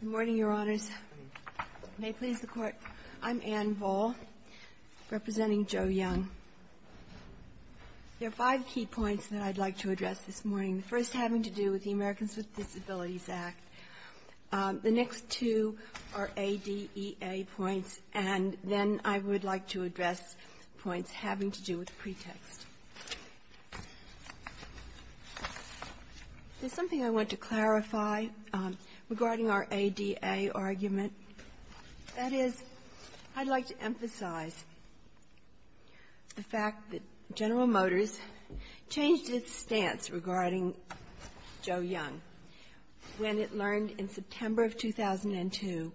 Good morning, Your Honors. May it please the Court, I'm Anne Voll representing Joe Young. There are five key points that I'd like to address this morning, the first having to do with the Americans with Disabilities Act. The next two are ADEA points, and then I would like to address points having to do with pretext. There's something I want to clarify regarding our ADEA argument. That is, I'd like to emphasize the fact that General Motors changed its stance regarding Joe Young when it learned in September of 2002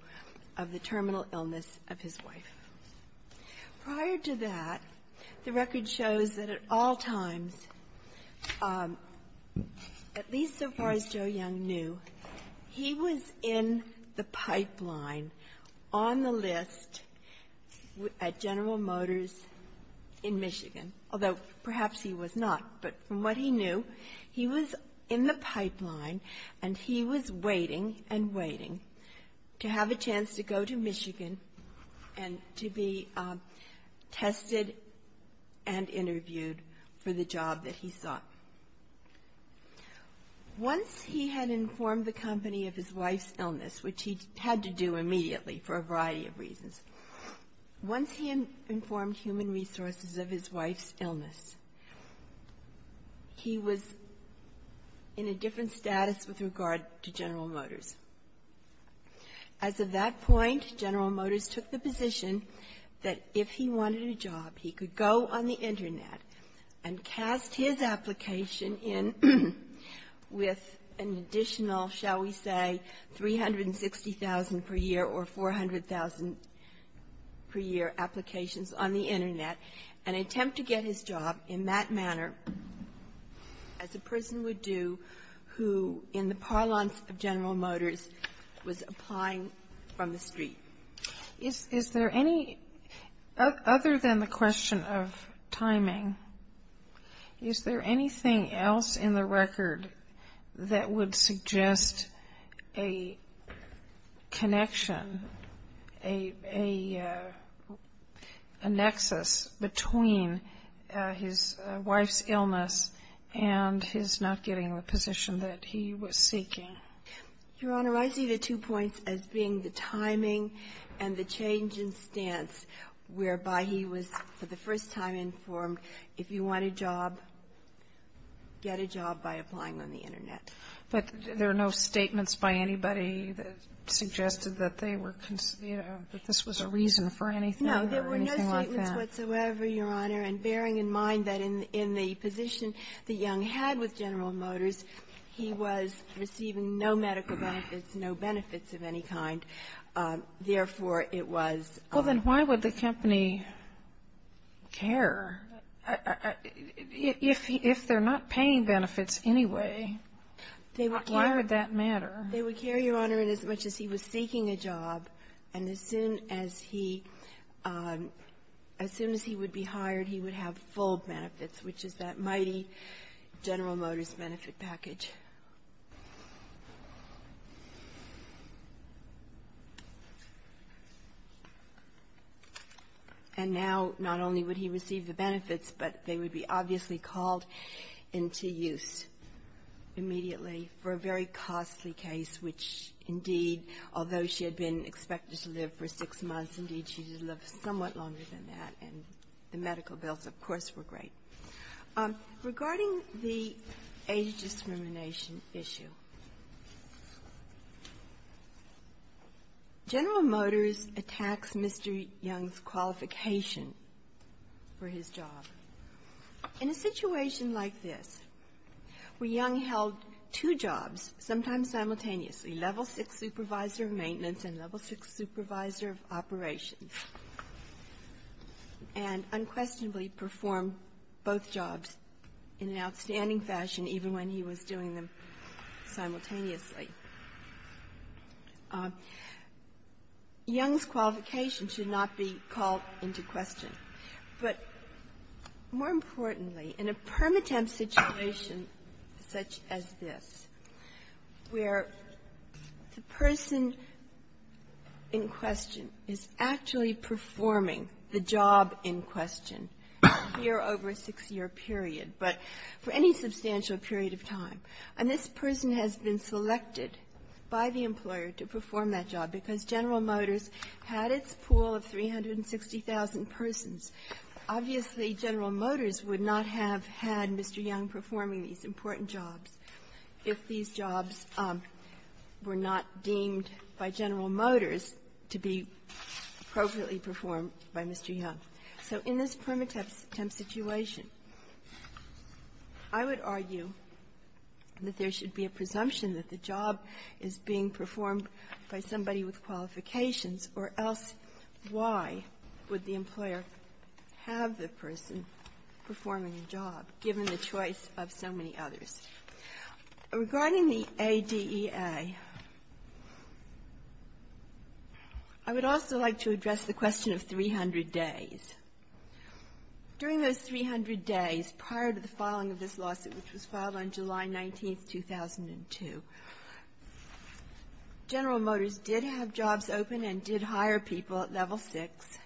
of the terminal illness of his wife. Prior to that, the record shows that at all times, at least so far as Joe Young knew, he was in the pipeline on the list at General Motors in Michigan, although perhaps he was not. But from what he knew, he was in the pipeline, and he was waiting and waiting to have a chance to go to Michigan and to be tested and interviewed for the job that he sought. Once he had informed the company of his wife's illness, which he had to do immediately for a variety of reasons, once he informed Human Resources of his wife's illness, he was in a different status with regard to General Motors. As of that point, General Motors took the position that if he wanted a job, he could go on the Internet and cast his application in with an additional, shall we say, 360,000 per year or 400,000 per year applications on the Internet and attempt to get his job in that manner as a person would do who, in the parlance of General Motors, was applying from the street. Is there any, other than the question of timing, is there anything else in the record that would suggest a connection, a nexus between his illness and his wife's illness and his not getting the position that he was seeking? Your Honor, I see the two points as being the timing and the change in stance whereby he was for the first time informed, if you want a job, get a job by applying on the Internet. But there are no statements by anybody that suggested that they were, that this was a reason for anything like that? There were no statements whatsoever, Your Honor, and bearing in mind that in the position that Young had with General Motors, he was receiving no medical benefits, no benefits of any kind. Therefore, it was a ---- Well, then why would the company care? If they're not paying benefits anyway, why would that matter? They would care, Your Honor, inasmuch as he was seeking a job, and as soon as he, as soon as he would be hired, he would have full benefits, which is that mighty General Motors benefit package. And now, not only would he receive the benefits, but they would be obviously called into use immediately for a very costly case, which indeed, although she had been expected to live for six months, indeed, she did live somewhat longer than that, and the medical bills, of course, were great. Regarding the age discrimination issue, General Motors attacks Mr. Young's qualification for his job. In a situation like this, where Young held two jobs, sometimes simultaneously, level six supervisor of maintenance and level six supervisor of operations, and unquestionably performed both jobs in an outstanding fashion, even when he was doing them simultaneously, Young's qualification should not be called into question. But more importantly, in a permitempt situation such as this, where the person in question is actually performing the job in question here over a six-year period, but for any substantial period of time, and this person has been selected by the employer to perform that job because General Motors had its pool of 360,000 persons. Obviously, General Motors would not have had Mr. Young performing these important jobs if these jobs were not deemed by General Motors to be appropriately performed by Mr. Young. So in this permitempt situation, I would argue that there should be a presumption that the job is being performed by somebody with qualifications, or else why would the employer have the person performing the job, given the choice of so many others? Regarding the ADEA, I would also like to address the question of 300 days. During those 300 days, prior to the filing of this lawsuit, which was filed on July 19, 2002, General Motors did have jobs open and did hire people at Level 6.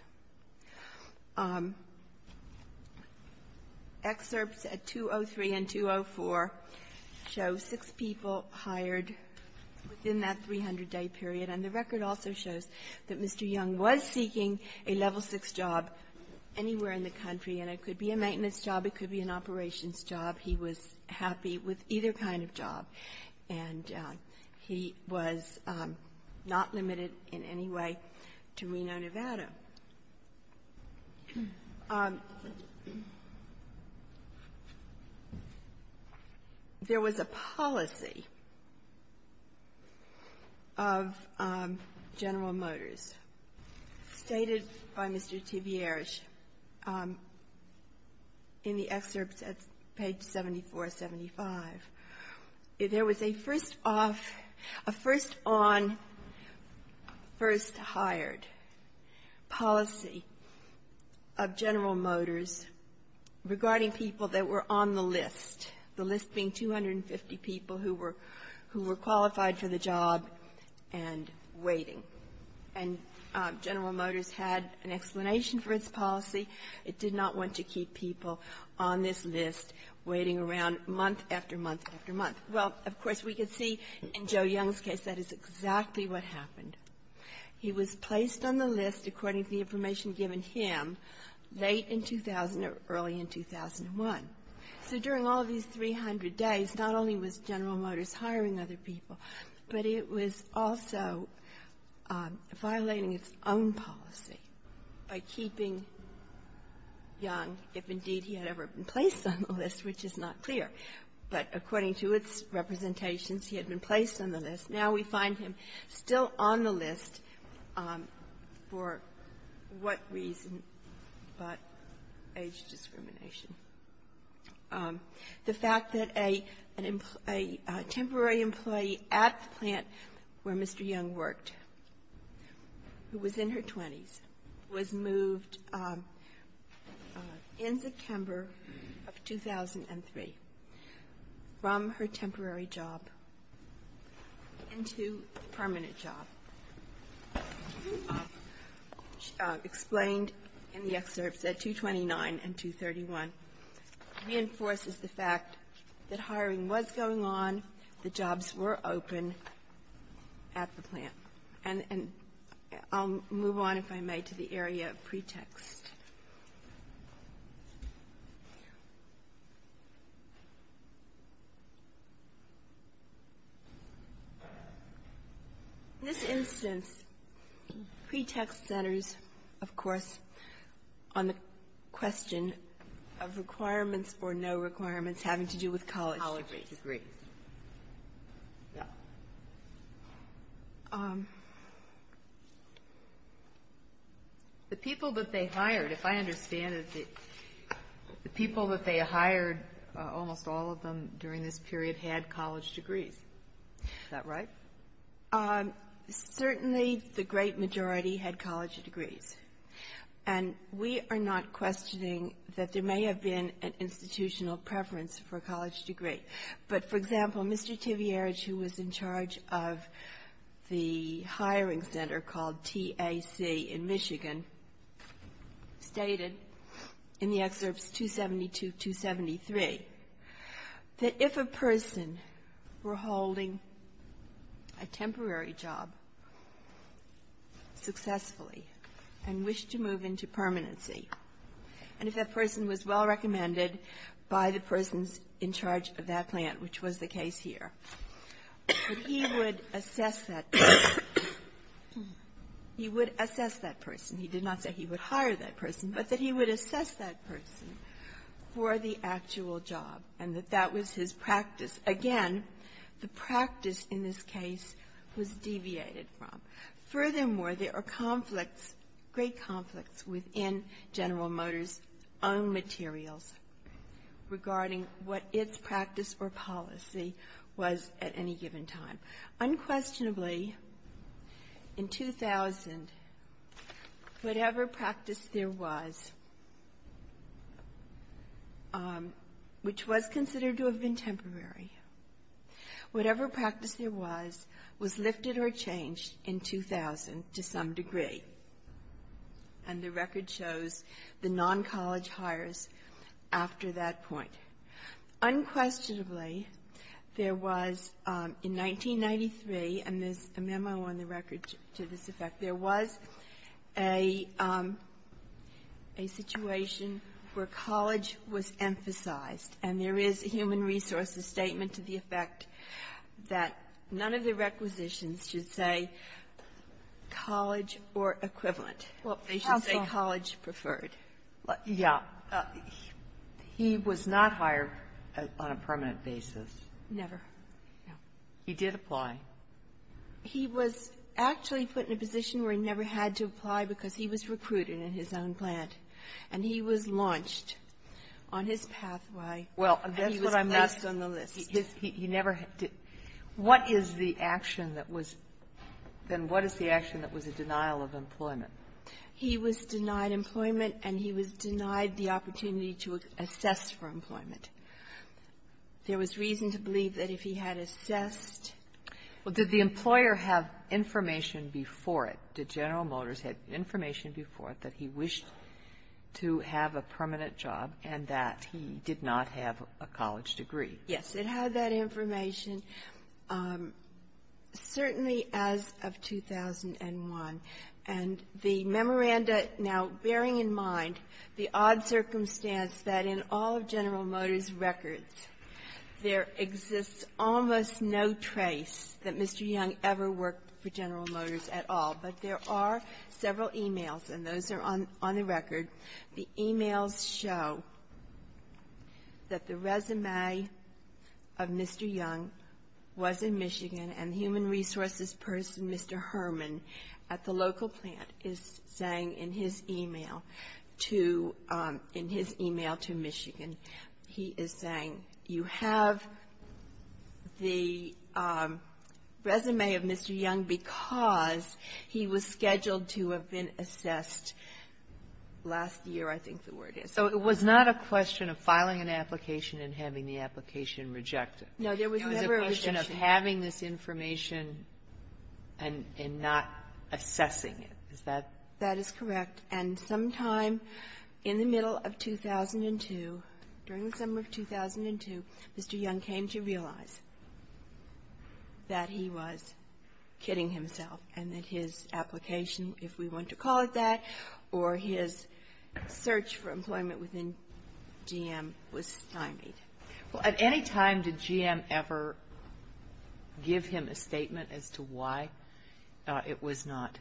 Excerpts at 203 and 204 show six people hired within that 300-day period. And the record also shows that Mr. Young was seeking a Level 6 job anywhere in the country. And it could be a maintenance job. It could be an operations job. He was happy with either kind of job. And he was not limited in any way to Reno, Nevada. There was a policy of General Motors stated by Mr. Tibieres in the excerpts at page 74, 75. There was a first-off --"a first-on policy of General Motors," stated by Mr. Tibieres. First hired policy of General Motors regarding people that were on the list, the list being 250 people who were qualified for the job and waiting. And General Motors had an explanation for its policy. It did not want to keep people on this list waiting around month after month after month. Well, of course, we could see in Joe Young's case that is exactly what happened He was placed on the list according to the information given him late in 2000 or early in 2001. So during all of these 300 days, not only was General Motors hiring other people, but it was also violating its own policy by keeping Young, if indeed he had ever been placed on the list, which is not clear. But according to its representations, he had been placed on the list. Now we find him still on the list for what reason but age discrimination. The fact that a temporary employee at the plant where Mr. Young worked, who was in her 20s, was moved in September of 2003 from her temporary job to the plant where Mr. Young worked into a permanent job, explained in the excerpts at 229 and 231, reinforces the fact that hiring was going on, the jobs were open at the plant. And I'll move on, if I may, to the area of pretext. In this instance, pretext centers, of course, on the question of requirements or no requirements having to do with college degrees. The people that they hired, if I understand it, the people that they hired, almost all of them during this period had college degrees. Is that right? Certainly the great majority had college degrees. And we are not questioning that there may have been an institutional preference for a college degree. But, for example, Mr. Tivierge, who was in charge of the hiring center called TAC in that if a person were holding a temporary job successfully and wished to move into permanency, and if that person was well-recommended by the persons in charge of that plant, which was the case here, that he would assess that person. He would assess that person. He did not say he would hire that person, but that he would assess that person for the actual job and that that was his practice. Again, the practice in this case was deviated from. Furthermore, there are conflicts, great conflicts, within General Motors' own materials regarding what its practice or policy was at any given time. Unquestionably, in 2000, whatever practice there was, which was considered to have been temporary, whatever practice there was, was lifted or changed in 2000 to some degree. And the record shows the non-college hires after that point. Unquestionably, there was, in 1993, and there's a memo on the record to this effect, there was a situation where college was emphasized, and there is a Human Resources statement to the effect that none of the requisitions should say college or equivalent. They should say college preferred. Yeah. He was not hired on a permanent basis. Never. He did apply. He was actually put in a position where he never had to apply because he was recruited in his own plant, and he was launched on his pathway. Well, that's what I'm asking. He was placed on the list. He never did. What is the action that was then what is the action that was a denial of employment? He was denied employment, and he was denied the opportunity to assess for employment. There was reason to believe that if he had assessed. Well, did the employer have information before it, did General Motors have information before it that he wished to have a permanent job and that he did not have a college degree? Yes. It had that information certainly as of 2001, and the memoranda now bearing in mind the odd circumstance that in all of General Motors' records, there exists almost no trace that Mr. Young ever worked for General Motors at all. But there are several emails, and those are on the record. The emails show that the resume of Mr. Young was in Michigan, and human resources person Mr. Herman at the local plant is saying in his email to Michigan, he is saying, you have the resume of Mr. Young because he was scheduled to have been assessed last year, I think the word is. So it was not a question of filing an application and having the application rejected. No, there was never a question. It was a question of having this information and not assessing it. Is that correct? That is correct. And sometime in the middle of 2002, during the summer of 2002, Mr. Young came to realize that he was kidding himself and that his application, if we want to call it that, or his search for employment within GM was stymied. Well, at any time did GM ever give him a statement as to why it was not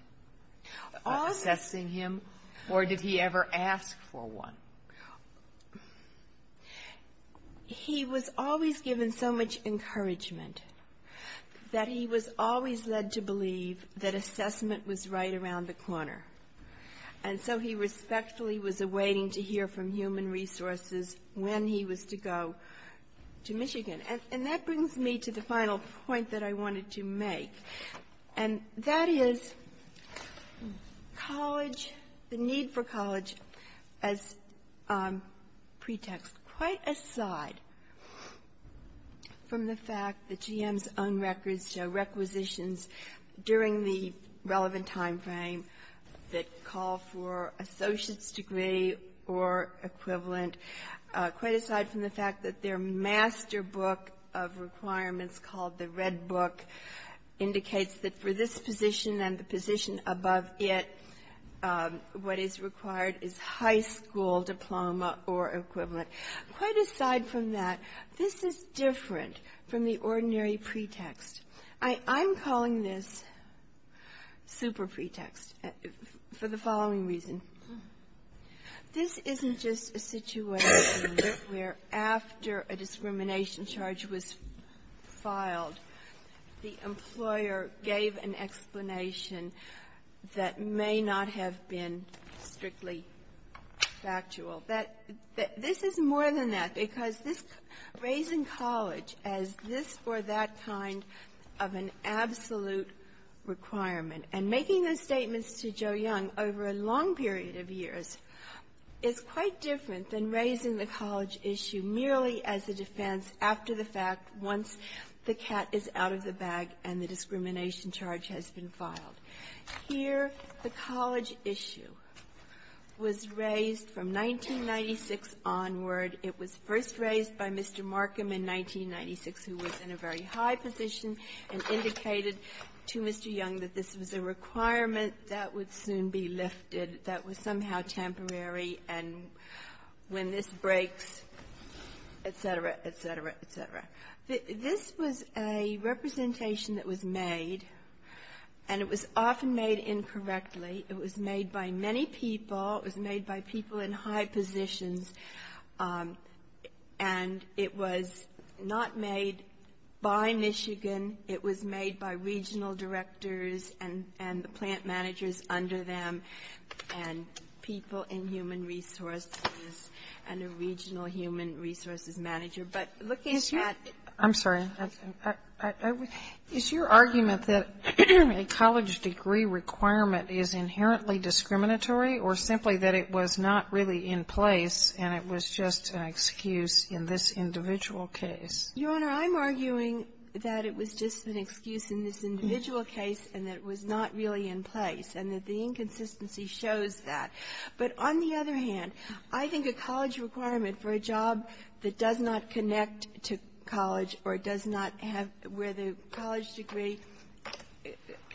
assessing him, or did he ever ask for one? He was always given so much encouragement that he was always led to believe that assessment was right around the corner. And so he respectfully was awaiting to hear from Human Resources when he was to go to Michigan. And that brings me to the final point that I wanted to make, and that is college, the need for college as pretext, quite aside from the fact that GM's own records show requisitions during the relevant timeframe that call for associate's degree or equivalent, quite aside from the fact that their master book of requirements called the Red Book indicates that for this position and the position above it, what is required is high school diploma or equivalent, quite aside from that, this is different from the ordinary pretext. I'm calling this super pretext for the following reason. This isn't just a situation where after a discrimination charge was filed, the employer gave an explanation that may not have been strictly factual. This is more than that, because this raising college as this or that kind of an absolute requirement, and making those statements to Joe Young over a long period of years is quite different than raising the college issue merely as a defense after the fact once the cat is out of the bag and the discrimination charge has been filed. Here, the college issue was raised from 1996 onward. It was first raised by Mr. Markham in 1996, who was in a very high position, and indicated to Mr. Young that this was a requirement that would soon be lifted, that was somehow temporary, and when this breaks, et cetera, et cetera, et cetera. This was a representation that was made, and it was often made incorrectly. It was made by many people. It was made by people in high positions, and it was not made by Michigan. It was made by regional directors and the plant managers under them and people in human resources and a regional human resources manager. But looking at the cat. Sotomayor, I'm sorry. Is your argument that a college degree requirement is inherently discriminatory or simply that it was not really in place and it was just an excuse in this individual case? Your Honor, I'm arguing that it was just an excuse in this individual case and that it was not really in place, and that the inconsistency shows that. But on the other hand, I think a college requirement for a job that does not connect to college or does not have where the college degree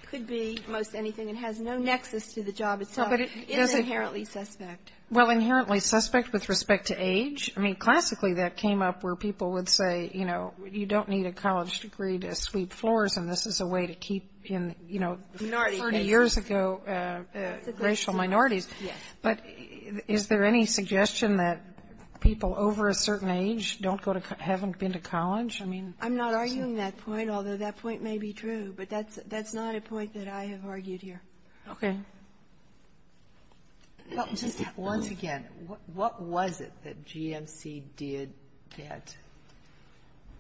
could be most anything and has no nexus to the job itself is inherently suspect. Well, inherently suspect with respect to age? I mean, classically that came up where people would say, you know, you don't need a college degree to sweep floors, and this is a way to keep in, you know, 30 years ago, racial minorities. Yes. But is there any suggestion that people over a certain age don't go to college or haven't been to college? I mean, that's a point. I'm not arguing that point, although that point may be true. But that's not a point that I have argued here. Okay. Once again, what was it that GMC did that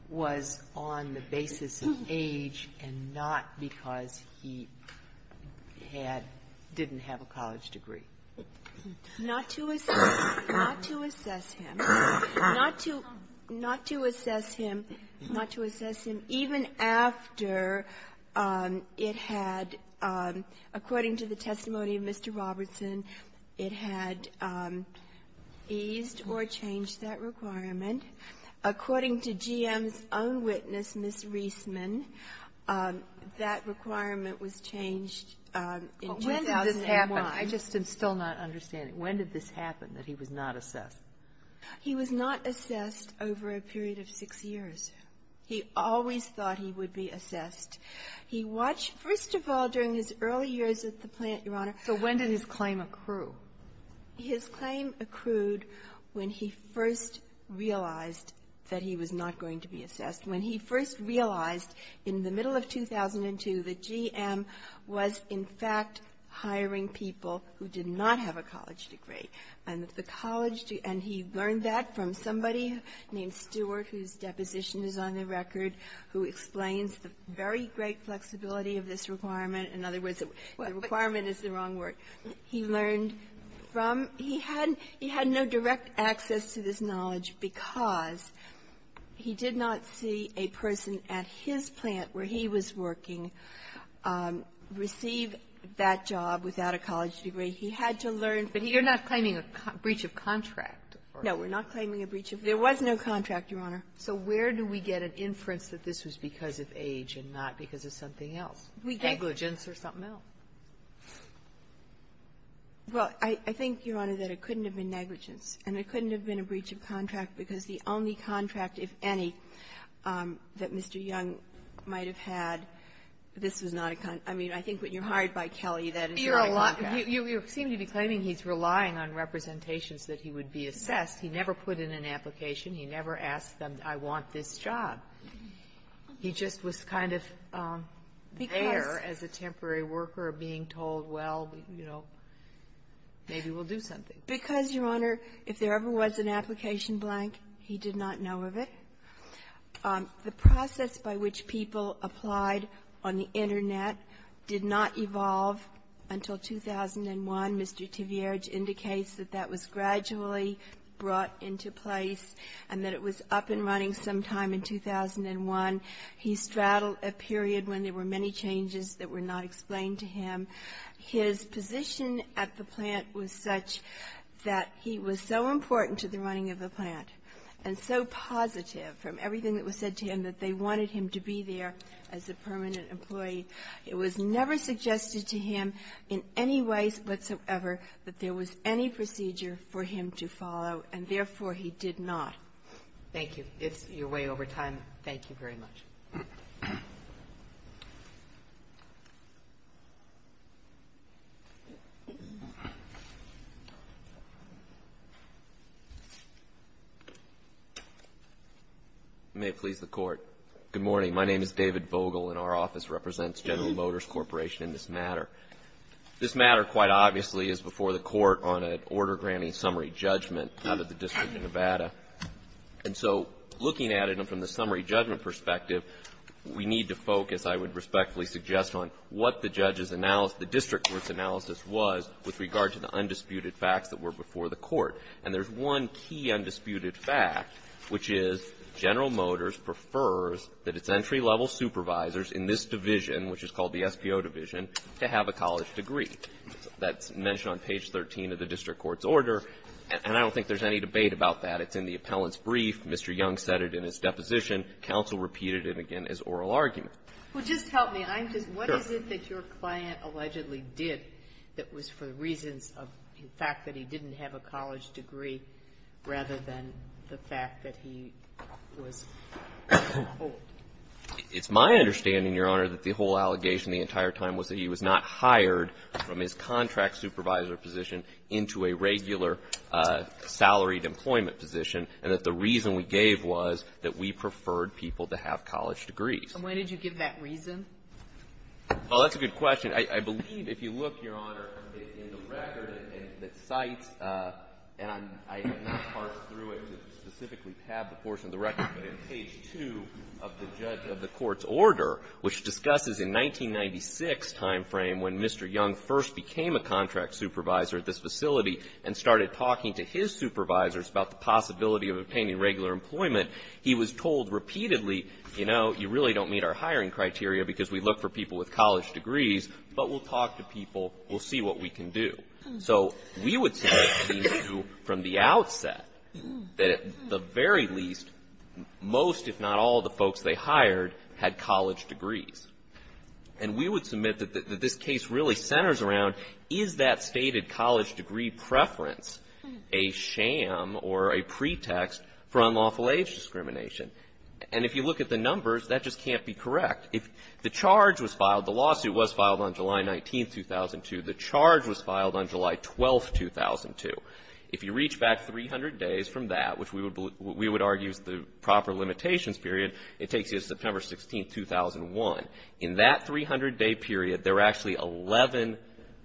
was on the basis of age and not because he had or didn't have a college degree? Not to assess him. Not to assess him. Not to assess him. Even after it had, according to the testimony of Mr. Robertson, it had eased or changed that requirement. According to GM's own witness, Ms. Reisman, that requirement was changed in 2001. But when did this happen? I just am still not understanding. When did this happen that he was not assessed? He was not assessed over a period of six years. He always thought he would be assessed. He watched, first of all, during his early years at the plant, Your Honor. So when did his claim accrue? His claim accrued when he first realized that he was not going to be assessed. When he first realized in the middle of 2002 that GM was, in fact, hiring people who did not have a college degree. And the college degree, and he learned that from somebody named Stewart, whose deposition is on the record, who explains the very great flexibility of this requirement. In other words, the requirement is the wrong word. He learned from he had no direct access to this knowledge because he did not see a person at his plant where he was working receive that job without a college degree. He had to learn. But you're not claiming a breach of contract. No. We're not claiming a breach of contract. There was no contract, Your Honor. So where do we get an inference that this was because of age and not because of something else, negligence or something else? Well, I think, Your Honor, that it couldn't have been negligence, and it couldn't have been a breach of contract because the only contract, if any, that Mr. Young might have had, this was not a contract. I mean, I think when you're hired by Kelly, that is not a contract. You seem to be claiming he's relying on representations that he would be assessed. He never put in an application. He never asked them, I want this job. He just was kind of there as a temporary worker, being told, well, you know, maybe we'll do something. Because, Your Honor, if there ever was an application blank, he did not know of it. The process by which people applied on the Internet did not evolve until 2001. Mr. Tvierge indicates that that was gradually brought into place and that it was up and running sometime in 2001. He straddled a period when there were many changes that were not explained to him. His position at the plant was such that he was so important to the running of the plant and so positive from everything that was said to him that they wanted him to be there as a permanent employee, it was never suggested to him in any ways whatsoever that there was any procedure for him to follow, and therefore, he did not. Thank you. It's your way over time. Thank you very much. May it please the Court. Good morning. My name is David Vogel, and our office represents General Motors Corporation in this matter. This matter, quite obviously, is before the Court on an order granting summary judgment out of the District of Nevada. And so looking at it from the summary judgment perspective, we need to focus, I would respectfully suggest, on what the district court's analysis was with regard to the undisputed facts that were before the Court. And there's one key undisputed fact, which is General Motors prefers that its That's mentioned on page 13 of the district court's order, and I don't think there's any debate about that. It's in the appellant's brief. Mr. Young said it in his deposition. Counsel repeated it again as oral argument. Well, just help me. Sure. What is it that your client allegedly did that was for the reasons of the fact that he didn't have a college degree rather than the fact that he was old? It's my understanding, Your Honor, that the whole allegation the entire time was that he was not hired from his contract supervisor position into a regular salaried employment position, and that the reason we gave was that we preferred people to have college degrees. And when did you give that reason? Well, that's a good question. I believe, if you look, Your Honor, in the record that cites, and I have not parsed through it to specifically tab the portion of the record, but in page 2 of the judge order, which discusses in 1996 time frame when Mr. Young first became a contract supervisor at this facility and started talking to his supervisors about the possibility of obtaining regular employment, he was told repeatedly, you know, you really don't meet our hiring criteria because we look for people with college degrees, but we'll talk to people. We'll see what we can do. So we would say from the outset that at the very least, most if not all the folks they hired had college degrees. And we would submit that this case really centers around, is that stated college degree preference a sham or a pretext for unlawful age discrimination? And if you look at the numbers, that just can't be correct. If the charge was filed, the lawsuit was filed on July 19, 2002. The charge was filed on July 12, 2002. If you reach back 300 days from that, which we would argue is the proper limitations period, it takes you to September 16, 2001. In that 300-day period, there were actually 11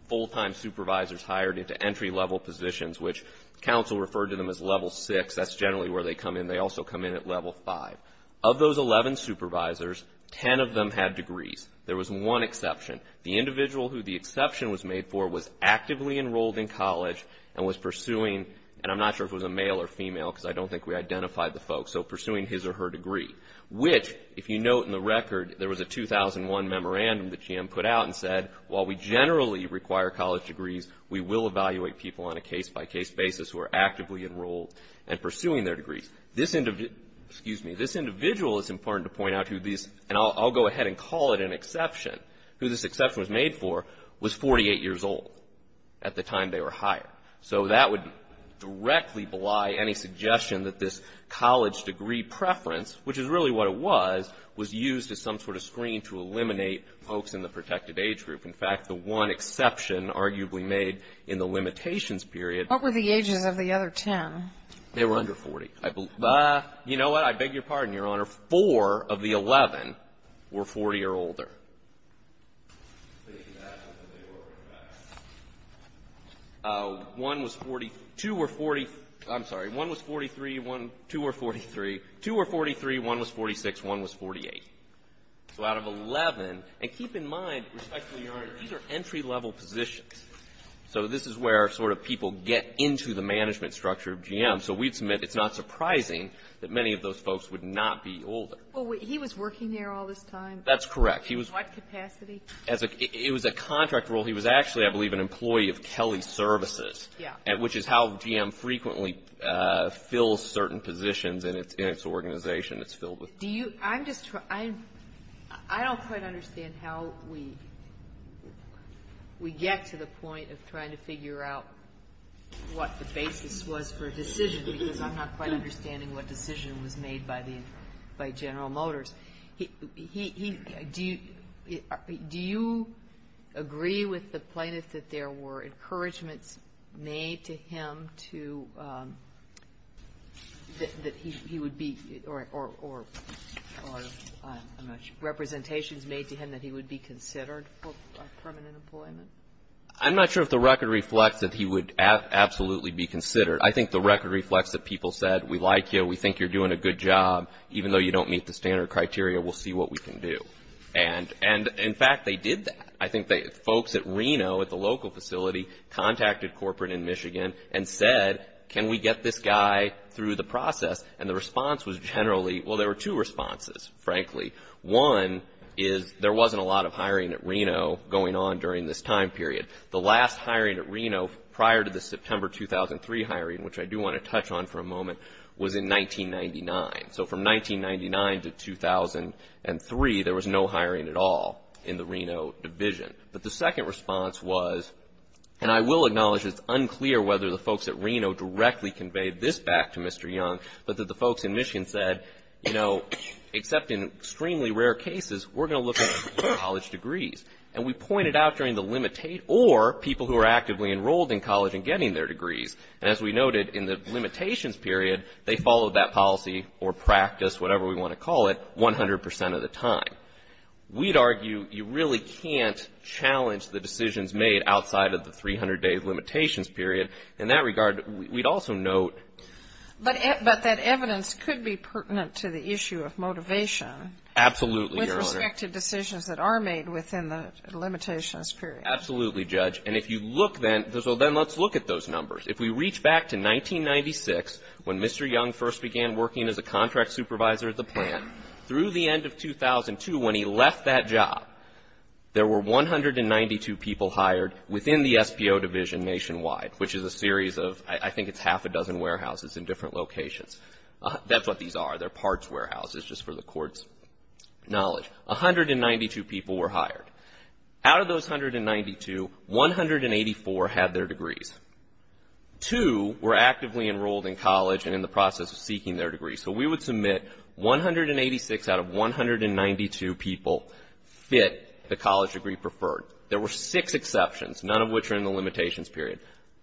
full-time supervisors hired into entry-level positions, which counsel referred to them as level 6. That's generally where they come in. They also come in at level 5. Of those 11 supervisors, 10 of them had degrees. There was one exception. The individual who the exception was made for was actively enrolled in college and was pursuing, and I'm not sure if it was a male or female because I don't think we identified the folks, so pursuing his or her degree. Which, if you note in the record, there was a 2001 memorandum that GM put out and said while we generally require college degrees, we will evaluate people on a case-by-case basis who are actively enrolled and pursuing their degrees. This individual is important to point out, and I'll go ahead and call it an exception. Who this exception was made for was 48 years old at the time they were hired. So that would directly belie any suggestion that this college degree preference, which is really what it was, was used as some sort of screen to eliminate folks in the protected age group. In fact, the one exception arguably made in the limitations period. What were the ages of the other 10? They were under 40. You know what? I beg your pardon, Your Honor. Four of the 11 were 40 or older. One was 42 or 40. I'm sorry. One was 43. Two were 43. Two were 43. One was 46. One was 48. So out of 11, and keep in mind, respectfully, Your Honor, these are entry-level positions. So this is where sort of people get into the management structure of GM. So we'd submit it's not surprising that many of those folks would not be older. Well, he was working there all this time? That's correct. In what capacity? It was a contract role. He was actually, I believe, an employee of Kelly Services, which is how GM frequently fills certain positions in its organization. It's filled with people. I don't quite understand how we get to the point of trying to figure out what the basis was for a decision, because I'm not quite understanding what decision was made by General Motors. Do you agree with the plaintiff that there were encouragements made to him to that he would be or representations made to him that he would be considered for permanent employment? I'm not sure if the record reflects that he would absolutely be considered. I think the record reflects that people said we like you, we think you're doing a good job, even though you don't meet the standard criteria, we'll see what we can do. And, in fact, they did that. I think folks at Reno at the local facility contacted corporate in Michigan and said, can we get this guy through the process? And the response was generally, well, there were two responses, frankly. One is there wasn't a lot of hiring at Reno going on during this time period. The last hiring at Reno prior to the September 2003 hiring, which I do want to touch on for a moment, was in 1999. So from 1999 to 2003, there was no hiring at all in the Reno division. But the second response was, and I will acknowledge it's unclear whether the folks at Reno directly conveyed this back to Mr. Young, but that the folks in Michigan said, you know, except in extremely rare cases, we're going to look at college degrees. And we pointed out during the or people who are actively enrolled in college and getting their degrees. And as we noted, in the limitations period, they followed that policy or practice, whatever we want to call it, 100 percent of the time. We'd argue you really can't challenge the decisions made outside of the 300-day limitations period. In that regard, we'd also note. But that evidence could be pertinent to the issue of motivation. Absolutely, Your Honor. With respect to decisions that are made within the limitations period. Absolutely, Judge. And if you look then, so then let's look at those numbers. If we reach back to 1996, when Mr. Young first began working as a contract supervisor at the plant, through the end of 2002, when he left that job, there were 192 people hired within the SBO division nationwide, which is a series of, I think it's half a dozen warehouses in different locations. That's what these are. They're parts warehouses, just for the Court's knowledge. 192 people were hired. Out of those 192, 184 had their degrees. Two were actively enrolled in college and in the process of seeking their degrees. So we would submit 186 out of 192 people fit the college degree preferred. There were six exceptions, none of which are in the limitations period.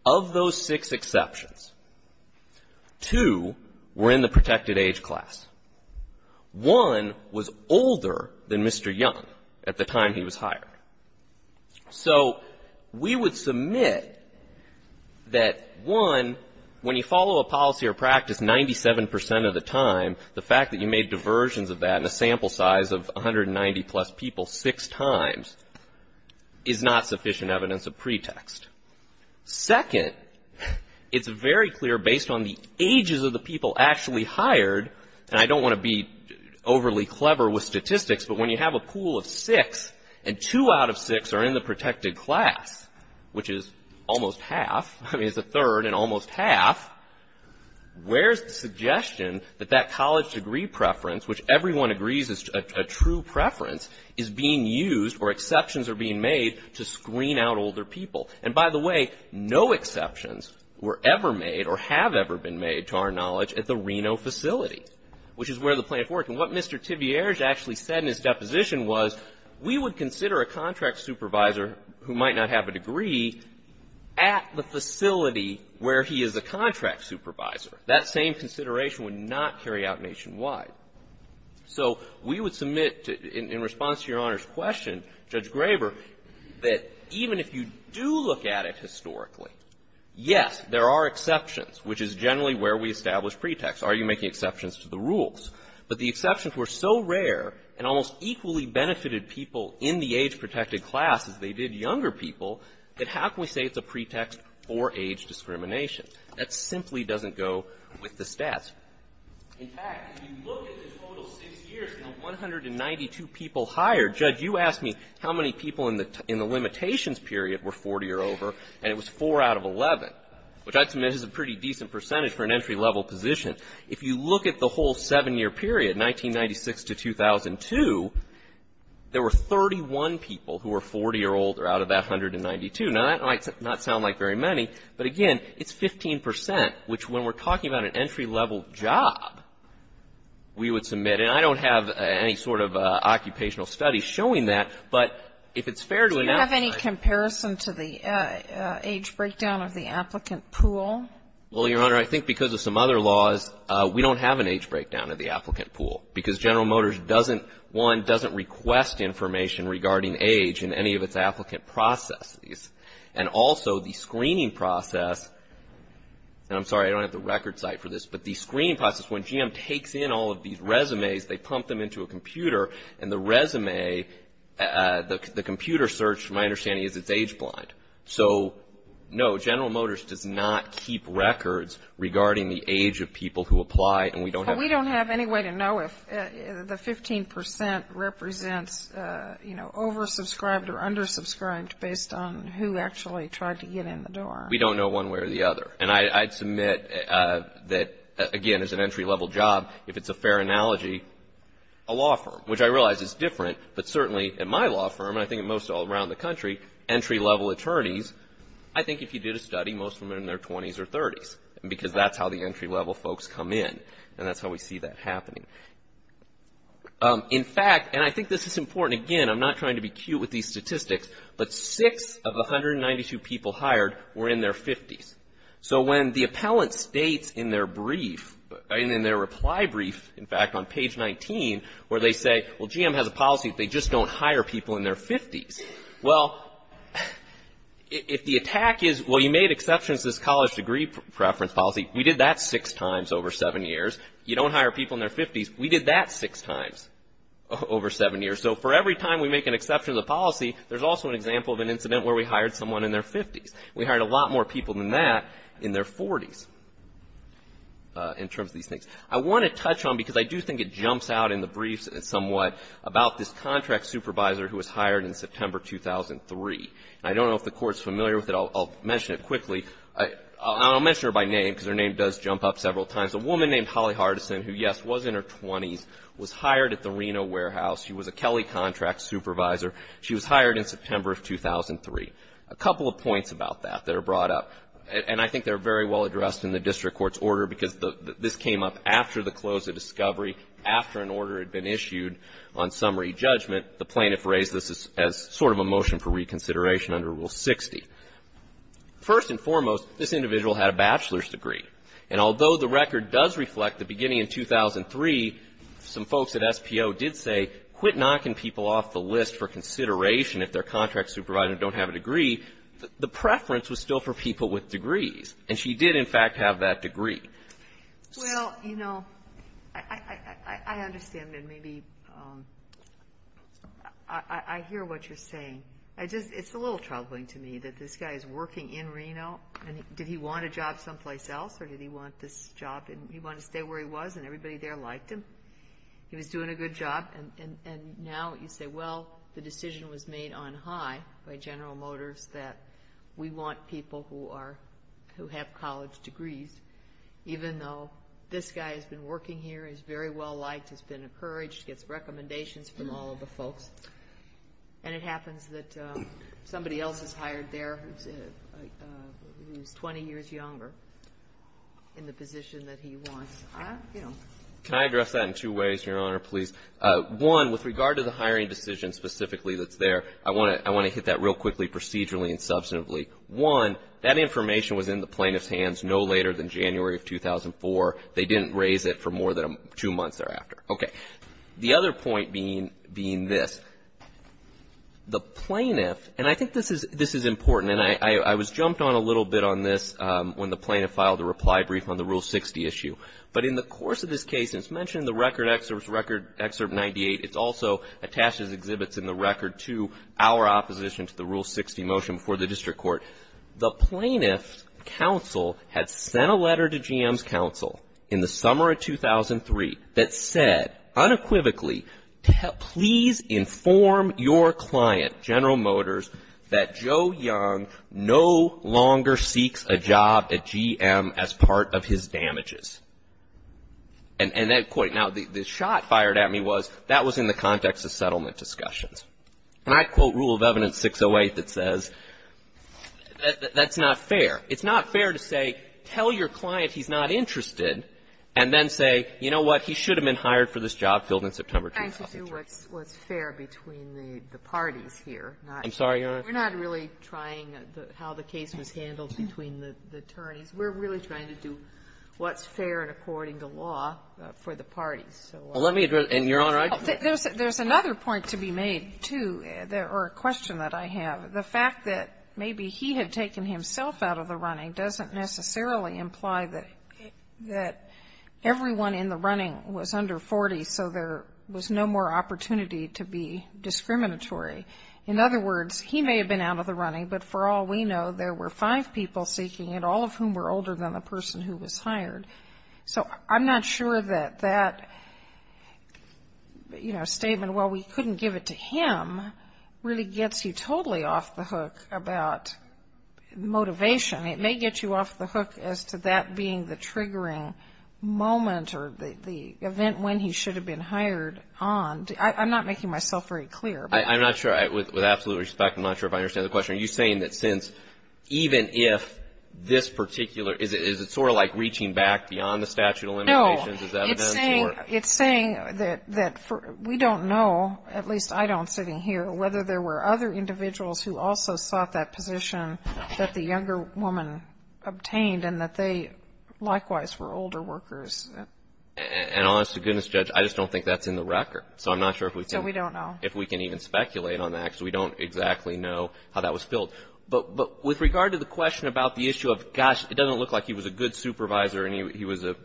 Of those six exceptions, two were in the protected age class. One was older than Mr. Young at the time he was hired. So we would submit that, one, when you follow a policy or practice 97 percent of the time, the fact that you made diversions of that in a sample size of 190 plus people six times is not sufficient evidence of pretext. Second, it's very clear based on the ages of the people actually hired, and I don't want to be overly clever with statistics, but when you have a pool of six and two out of six are in the protected class, which is almost half, I mean it's a third and almost half, where's the suggestion that that college degree preference, which everyone agrees is a true preference, is being used or exceptions are being made to screen out older people? And by the way, no exceptions were ever made or have ever been made to our knowledge at the Reno facility, which is where the plan for it. And what Mr. Tibierge actually said in his deposition was, we would consider a contract supervisor who might not have a degree at the facility where he is a contract supervisor. That same consideration would not carry out nationwide. So we would submit in response to Your Honor's question, Judge Graber, that even if you do look at it historically, yes, there are exceptions, which is generally where we establish pretexts. Are you making exceptions to the rules? But the exceptions were so rare and almost equally benefited people in the age-protected class as they did younger people that how can we say it's a pretext for age discrimination? That simply doesn't go with the stats. In fact, if you look at the total six years and the 192 people hired, Judge, you asked me how many people in the limitations period were 40 or over, and it was four out of 11, which I'd submit is a pretty decent percentage for an entry-level position. If you look at the whole seven-year period, 1996 to 2002, there were 31 people who were 40 or older out of that 192. Now, that might not sound like very many, but again, it's 15%, which when we're talking about an entry-level job, we would submit. And I don't have any sort of occupational studies showing that, but if it's fair to enact that. Do you have any comparison to the age breakdown of the applicant pool? Well, Your Honor, I think because of some other laws, we don't have an age breakdown of the applicant pool, because General Motors doesn't, one, doesn't request information regarding age in any of its applicant processes. And also, the screening process, and I'm sorry, I don't have the record site for this, but the screening process, when GM takes in all of these resumes, they pump them into a computer, and the resume, the computer search from my understanding is it's age blind. So, no, General Motors does not keep records regarding the age of people who apply. We don't have any way to know if the 15% represents, you know, oversubscribed or undersubscribed based on who actually tried to get in the door. We don't know one way or the other. And I'd submit that, again, as an entry-level job, if it's a fair analogy, a law firm, which I realize is different, but certainly at my law firm, and I think at most all around the country, entry-level attorneys, I think if you did a study, most of them are in their 20s or 30s, because that's how the entry-level folks come in, and that's how we see that happening. In fact, and I think this is important, again, I'm not trying to be cute with these statistics, but six of the 192 people hired were in their 50s. So when the appellant states in their brief, in their reply brief, in fact, on page 19, where they say, well, GM has a policy if they just don't hire people in their 50s. Well, if the attack is, well, you made exceptions to this college degree preference policy, we did that six times over seven years. You don't hire people in their 50s, we did that six times over seven years. So for every time we make an exception to the policy, there's also an example of an incident where we hired someone in their 50s. We hired a lot more people than that in their 40s in terms of these things. I want to touch on, because I do think it jumps out in the briefs somewhat, about this contract supervisor who was hired in September 2003. I don't know if the Court's familiar with it. I'll mention it quickly. I'll mention her by name, because her name does jump up several times. A woman named Holly Hardison, who, yes, was in her 20s, was hired at the Reno warehouse. She was a Kelley contract supervisor. She was hired in September of 2003. A couple of points about that that are brought up, and I think they're very well addressed in the district court's order, because this came up after the close of discovery, after an order had been issued on summary judgment. The plaintiff raised this as sort of a motion for reconsideration under Rule 60. First and foremost, this individual had a bachelor's degree. And although the record does reflect the beginning in 2003, some folks at SPO did say, quit knocking people off the list for consideration if their contract supervisor don't have a degree. The preference was still for people with degrees. And she did, in fact, have that degree. Well, you know, I understand, and maybe I hear what you're saying. It's a little troubling to me that this guy is working in Reno, and did he want a job someplace else, or did he want this job, and he wanted to stay where he was and everybody there liked him. He was doing a good job. And now you say, well, the decision was made on high by General Motors that we want people who have college degrees, even though this guy has been working here, he's very well liked, he's been encouraged, gets recommendations from all of the folks. And it happens that somebody else is hired there who's 20 years younger in the position that he wants. Can I address that in two ways, Your Honor, please? One, with regard to the hiring decision specifically that's there, I want to hit that real quickly procedurally and substantively. One, that information was in the plaintiff's hands no later than January of 2004. They didn't raise it for more than two months thereafter. Okay. The other point being this. The plaintiff, and I think this is important, and I was jumped on a little bit on this when the plaintiff filed a reply brief on the Rule 60 issue. But in the course of this case, and it's mentioned in the record excerpt 98, it's also attached as exhibits in the record to our opposition to the Rule 60 motion before the district court. The plaintiff's counsel had sent a letter to GM's counsel in the summer of 2003 that said unequivocally, please inform your client, General Motors, that Joe Young no longer seeks a job at GM as part of his damages. And that point. Now, the shot fired at me was that was in the context of settlement discussions. And I quote Rule of Evidence 608 that says that's not fair. It's not fair to say, tell your client he's not interested, and then say, you know what, he should have been hired for this job filled in September 2003. We're not trying to do what's fair between the parties here. I'm sorry, Your Honor. We're not really trying how the case was handled between the attorneys. We're really trying to do what's fair and according to law for the parties. Well, let me address your Honor. There's another point to be made, too, or a question that I have. The fact that maybe he had taken himself out of the running doesn't necessarily imply that everyone in the running was under 40, so there was no more opportunity to be discriminatory. In other words, he may have been out of the running, but for all we know there were five people seeking it, all of whom were older than the person who was hired. So I'm not sure that that, you know, statement, well, we couldn't give it to him, really gets you totally off the hook about motivation. It may get you off the hook as to that being the triggering moment or the event when he should have been hired on. I'm not making myself very clear. I'm not sure. With absolute respect, I'm not sure if I understand the question. Are you saying that since even if this particular, is it sort of like reaching back beyond the statute of limitations? No. It's saying that we don't know, at least I don't sitting here, whether there were other individuals who also sought that position that the younger woman obtained and that they likewise were older workers. And honest to goodness, Judge, I just don't think that's in the record. So I'm not sure if we can. So we don't know. If we can even speculate on that because we don't exactly know how that was filled. But with regard to the question about the issue of, gosh, it doesn't look like he was a good supervisor and he was a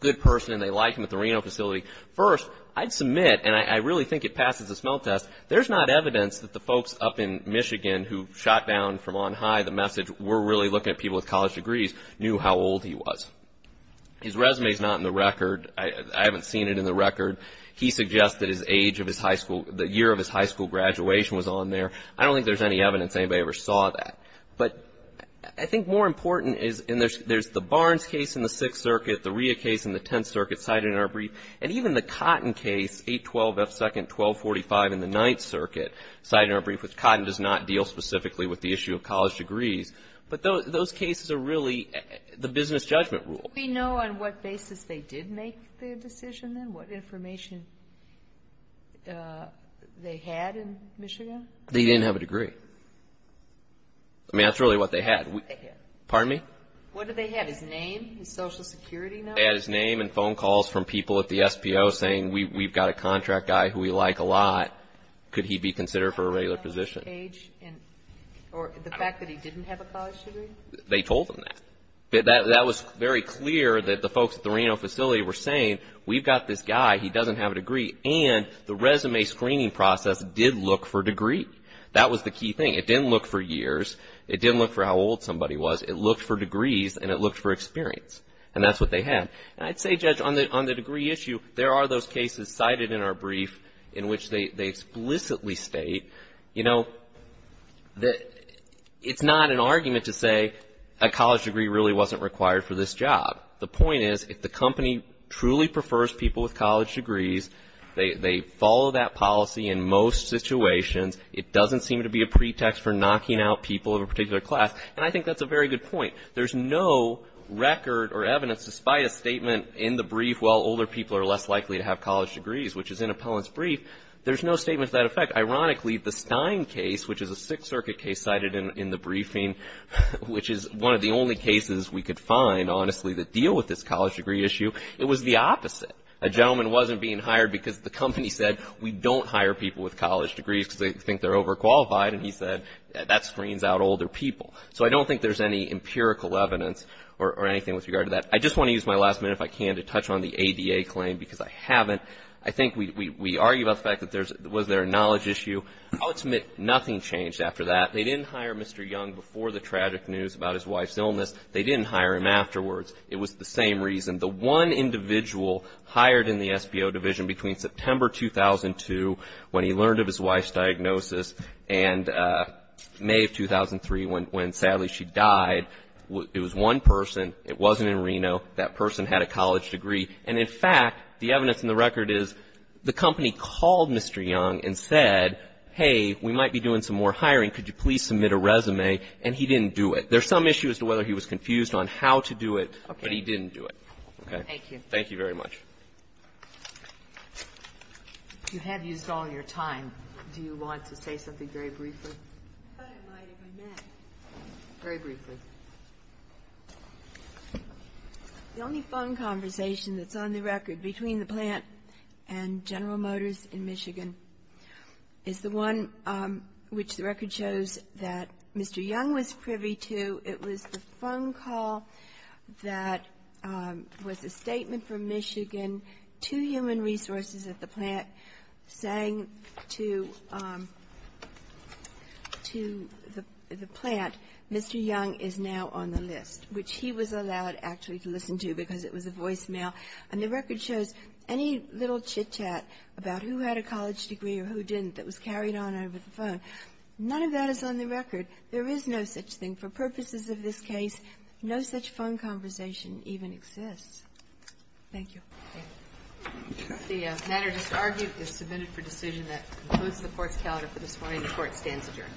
good person and they liked him at the Reno facility. First, I'd submit, and I really think it passes the smell test, there's not evidence that the folks up in Michigan who shot down from on high the message, we're really looking at people with college degrees, knew how old he was. His resume is not in the record. I haven't seen it in the record. He suggests that the year of his high school graduation was on there. I don't think there's any evidence anybody ever saw that. But I think more important is there's the Barnes case in the Sixth Circuit, the Rhea case in the Tenth Circuit cited in our brief, and even the Cotton case, 812 F. Second, 1245 in the Ninth Circuit, cited in our brief, which Cotton does not deal specifically with the issue of college degrees. But those cases are really the business judgment rule. Do we know on what basis they did make the decision then, what information they had in Michigan? They didn't have a degree. I mean, that's really what they had. Pardon me? What did they have, his name, his Social Security number? They had his name and phone calls from people at the SPO saying, we've got a contract guy who we like a lot. Could he be considered for a regular position? Age, or the fact that he didn't have a college degree? They told them that. That was very clear that the folks at the Reno facility were saying, we've got this guy. He doesn't have a degree. And the resume screening process did look for degree. That was the key thing. It didn't look for years. It didn't look for how old somebody was. It looked for degrees, and it looked for experience. And that's what they had. And I'd say, Judge, on the degree issue, there are those cases cited in our brief in which they explicitly state, you know, it's not an argument to say a college degree really wasn't required for this job. The point is, if the company truly prefers people with college degrees, they follow that policy in most situations. It doesn't seem to be a pretext for knocking out people of a particular class. And I think that's a very good point. There's no record or evidence, despite a statement in the brief, well, older people are less likely to have college degrees, which is in Appellant's brief. There's no statement to that effect. Ironically, the Stein case, which is a Sixth Circuit case cited in the briefing, which is one of the only cases we could find, honestly, that deal with this college degree issue, it was the opposite. A gentleman wasn't being hired because the company said, we don't hire people with college degrees because they think they're overqualified. And he said, that screens out older people. So I don't think there's any empirical evidence or anything with regard to that. I just want to use my last minute, if I can, to touch on the ADA claim, because I haven't. I think we argue about the fact that was there a knowledge issue. I'll admit nothing changed after that. They didn't hire Mr. Young before the tragic news about his wife's illness. They didn't hire him afterwards. It was the same reason. The one individual hired in the SBO division between September 2002, when he learned of his wife's diagnosis, and May of 2003, when sadly she died. It was one person. It wasn't in Reno. That person had a college degree. And in fact, the evidence in the record is the company called Mr. Young and said, hey, we might be doing some more hiring. Could you please submit a resume? And he didn't do it. There's some issue as to whether he was confused on how to do it, but he didn't do it. Okay. Thank you. Thank you very much. You have used all your time. Do you want to say something very briefly? I thought I might if I may. Very briefly. The only phone conversation that's on the record between the plant and General Motors in Michigan is the one which the record shows that Mr. Young was privy to. It was the phone call that was a statement from Michigan to human resources at the plant saying to the plant, Mr. Young is now on the list, which he was allowed actually to listen to because it was a voicemail. And the record shows any little chit-chat about who had a college degree or who didn't that was carried on over the phone. None of that is on the record. There is no such thing. For purposes of this case, no such phone conversation even exists. Thank you. Okay. The matter just argued is submitted for decision. That concludes the Court's calendar for this morning. The Court stands adjourned.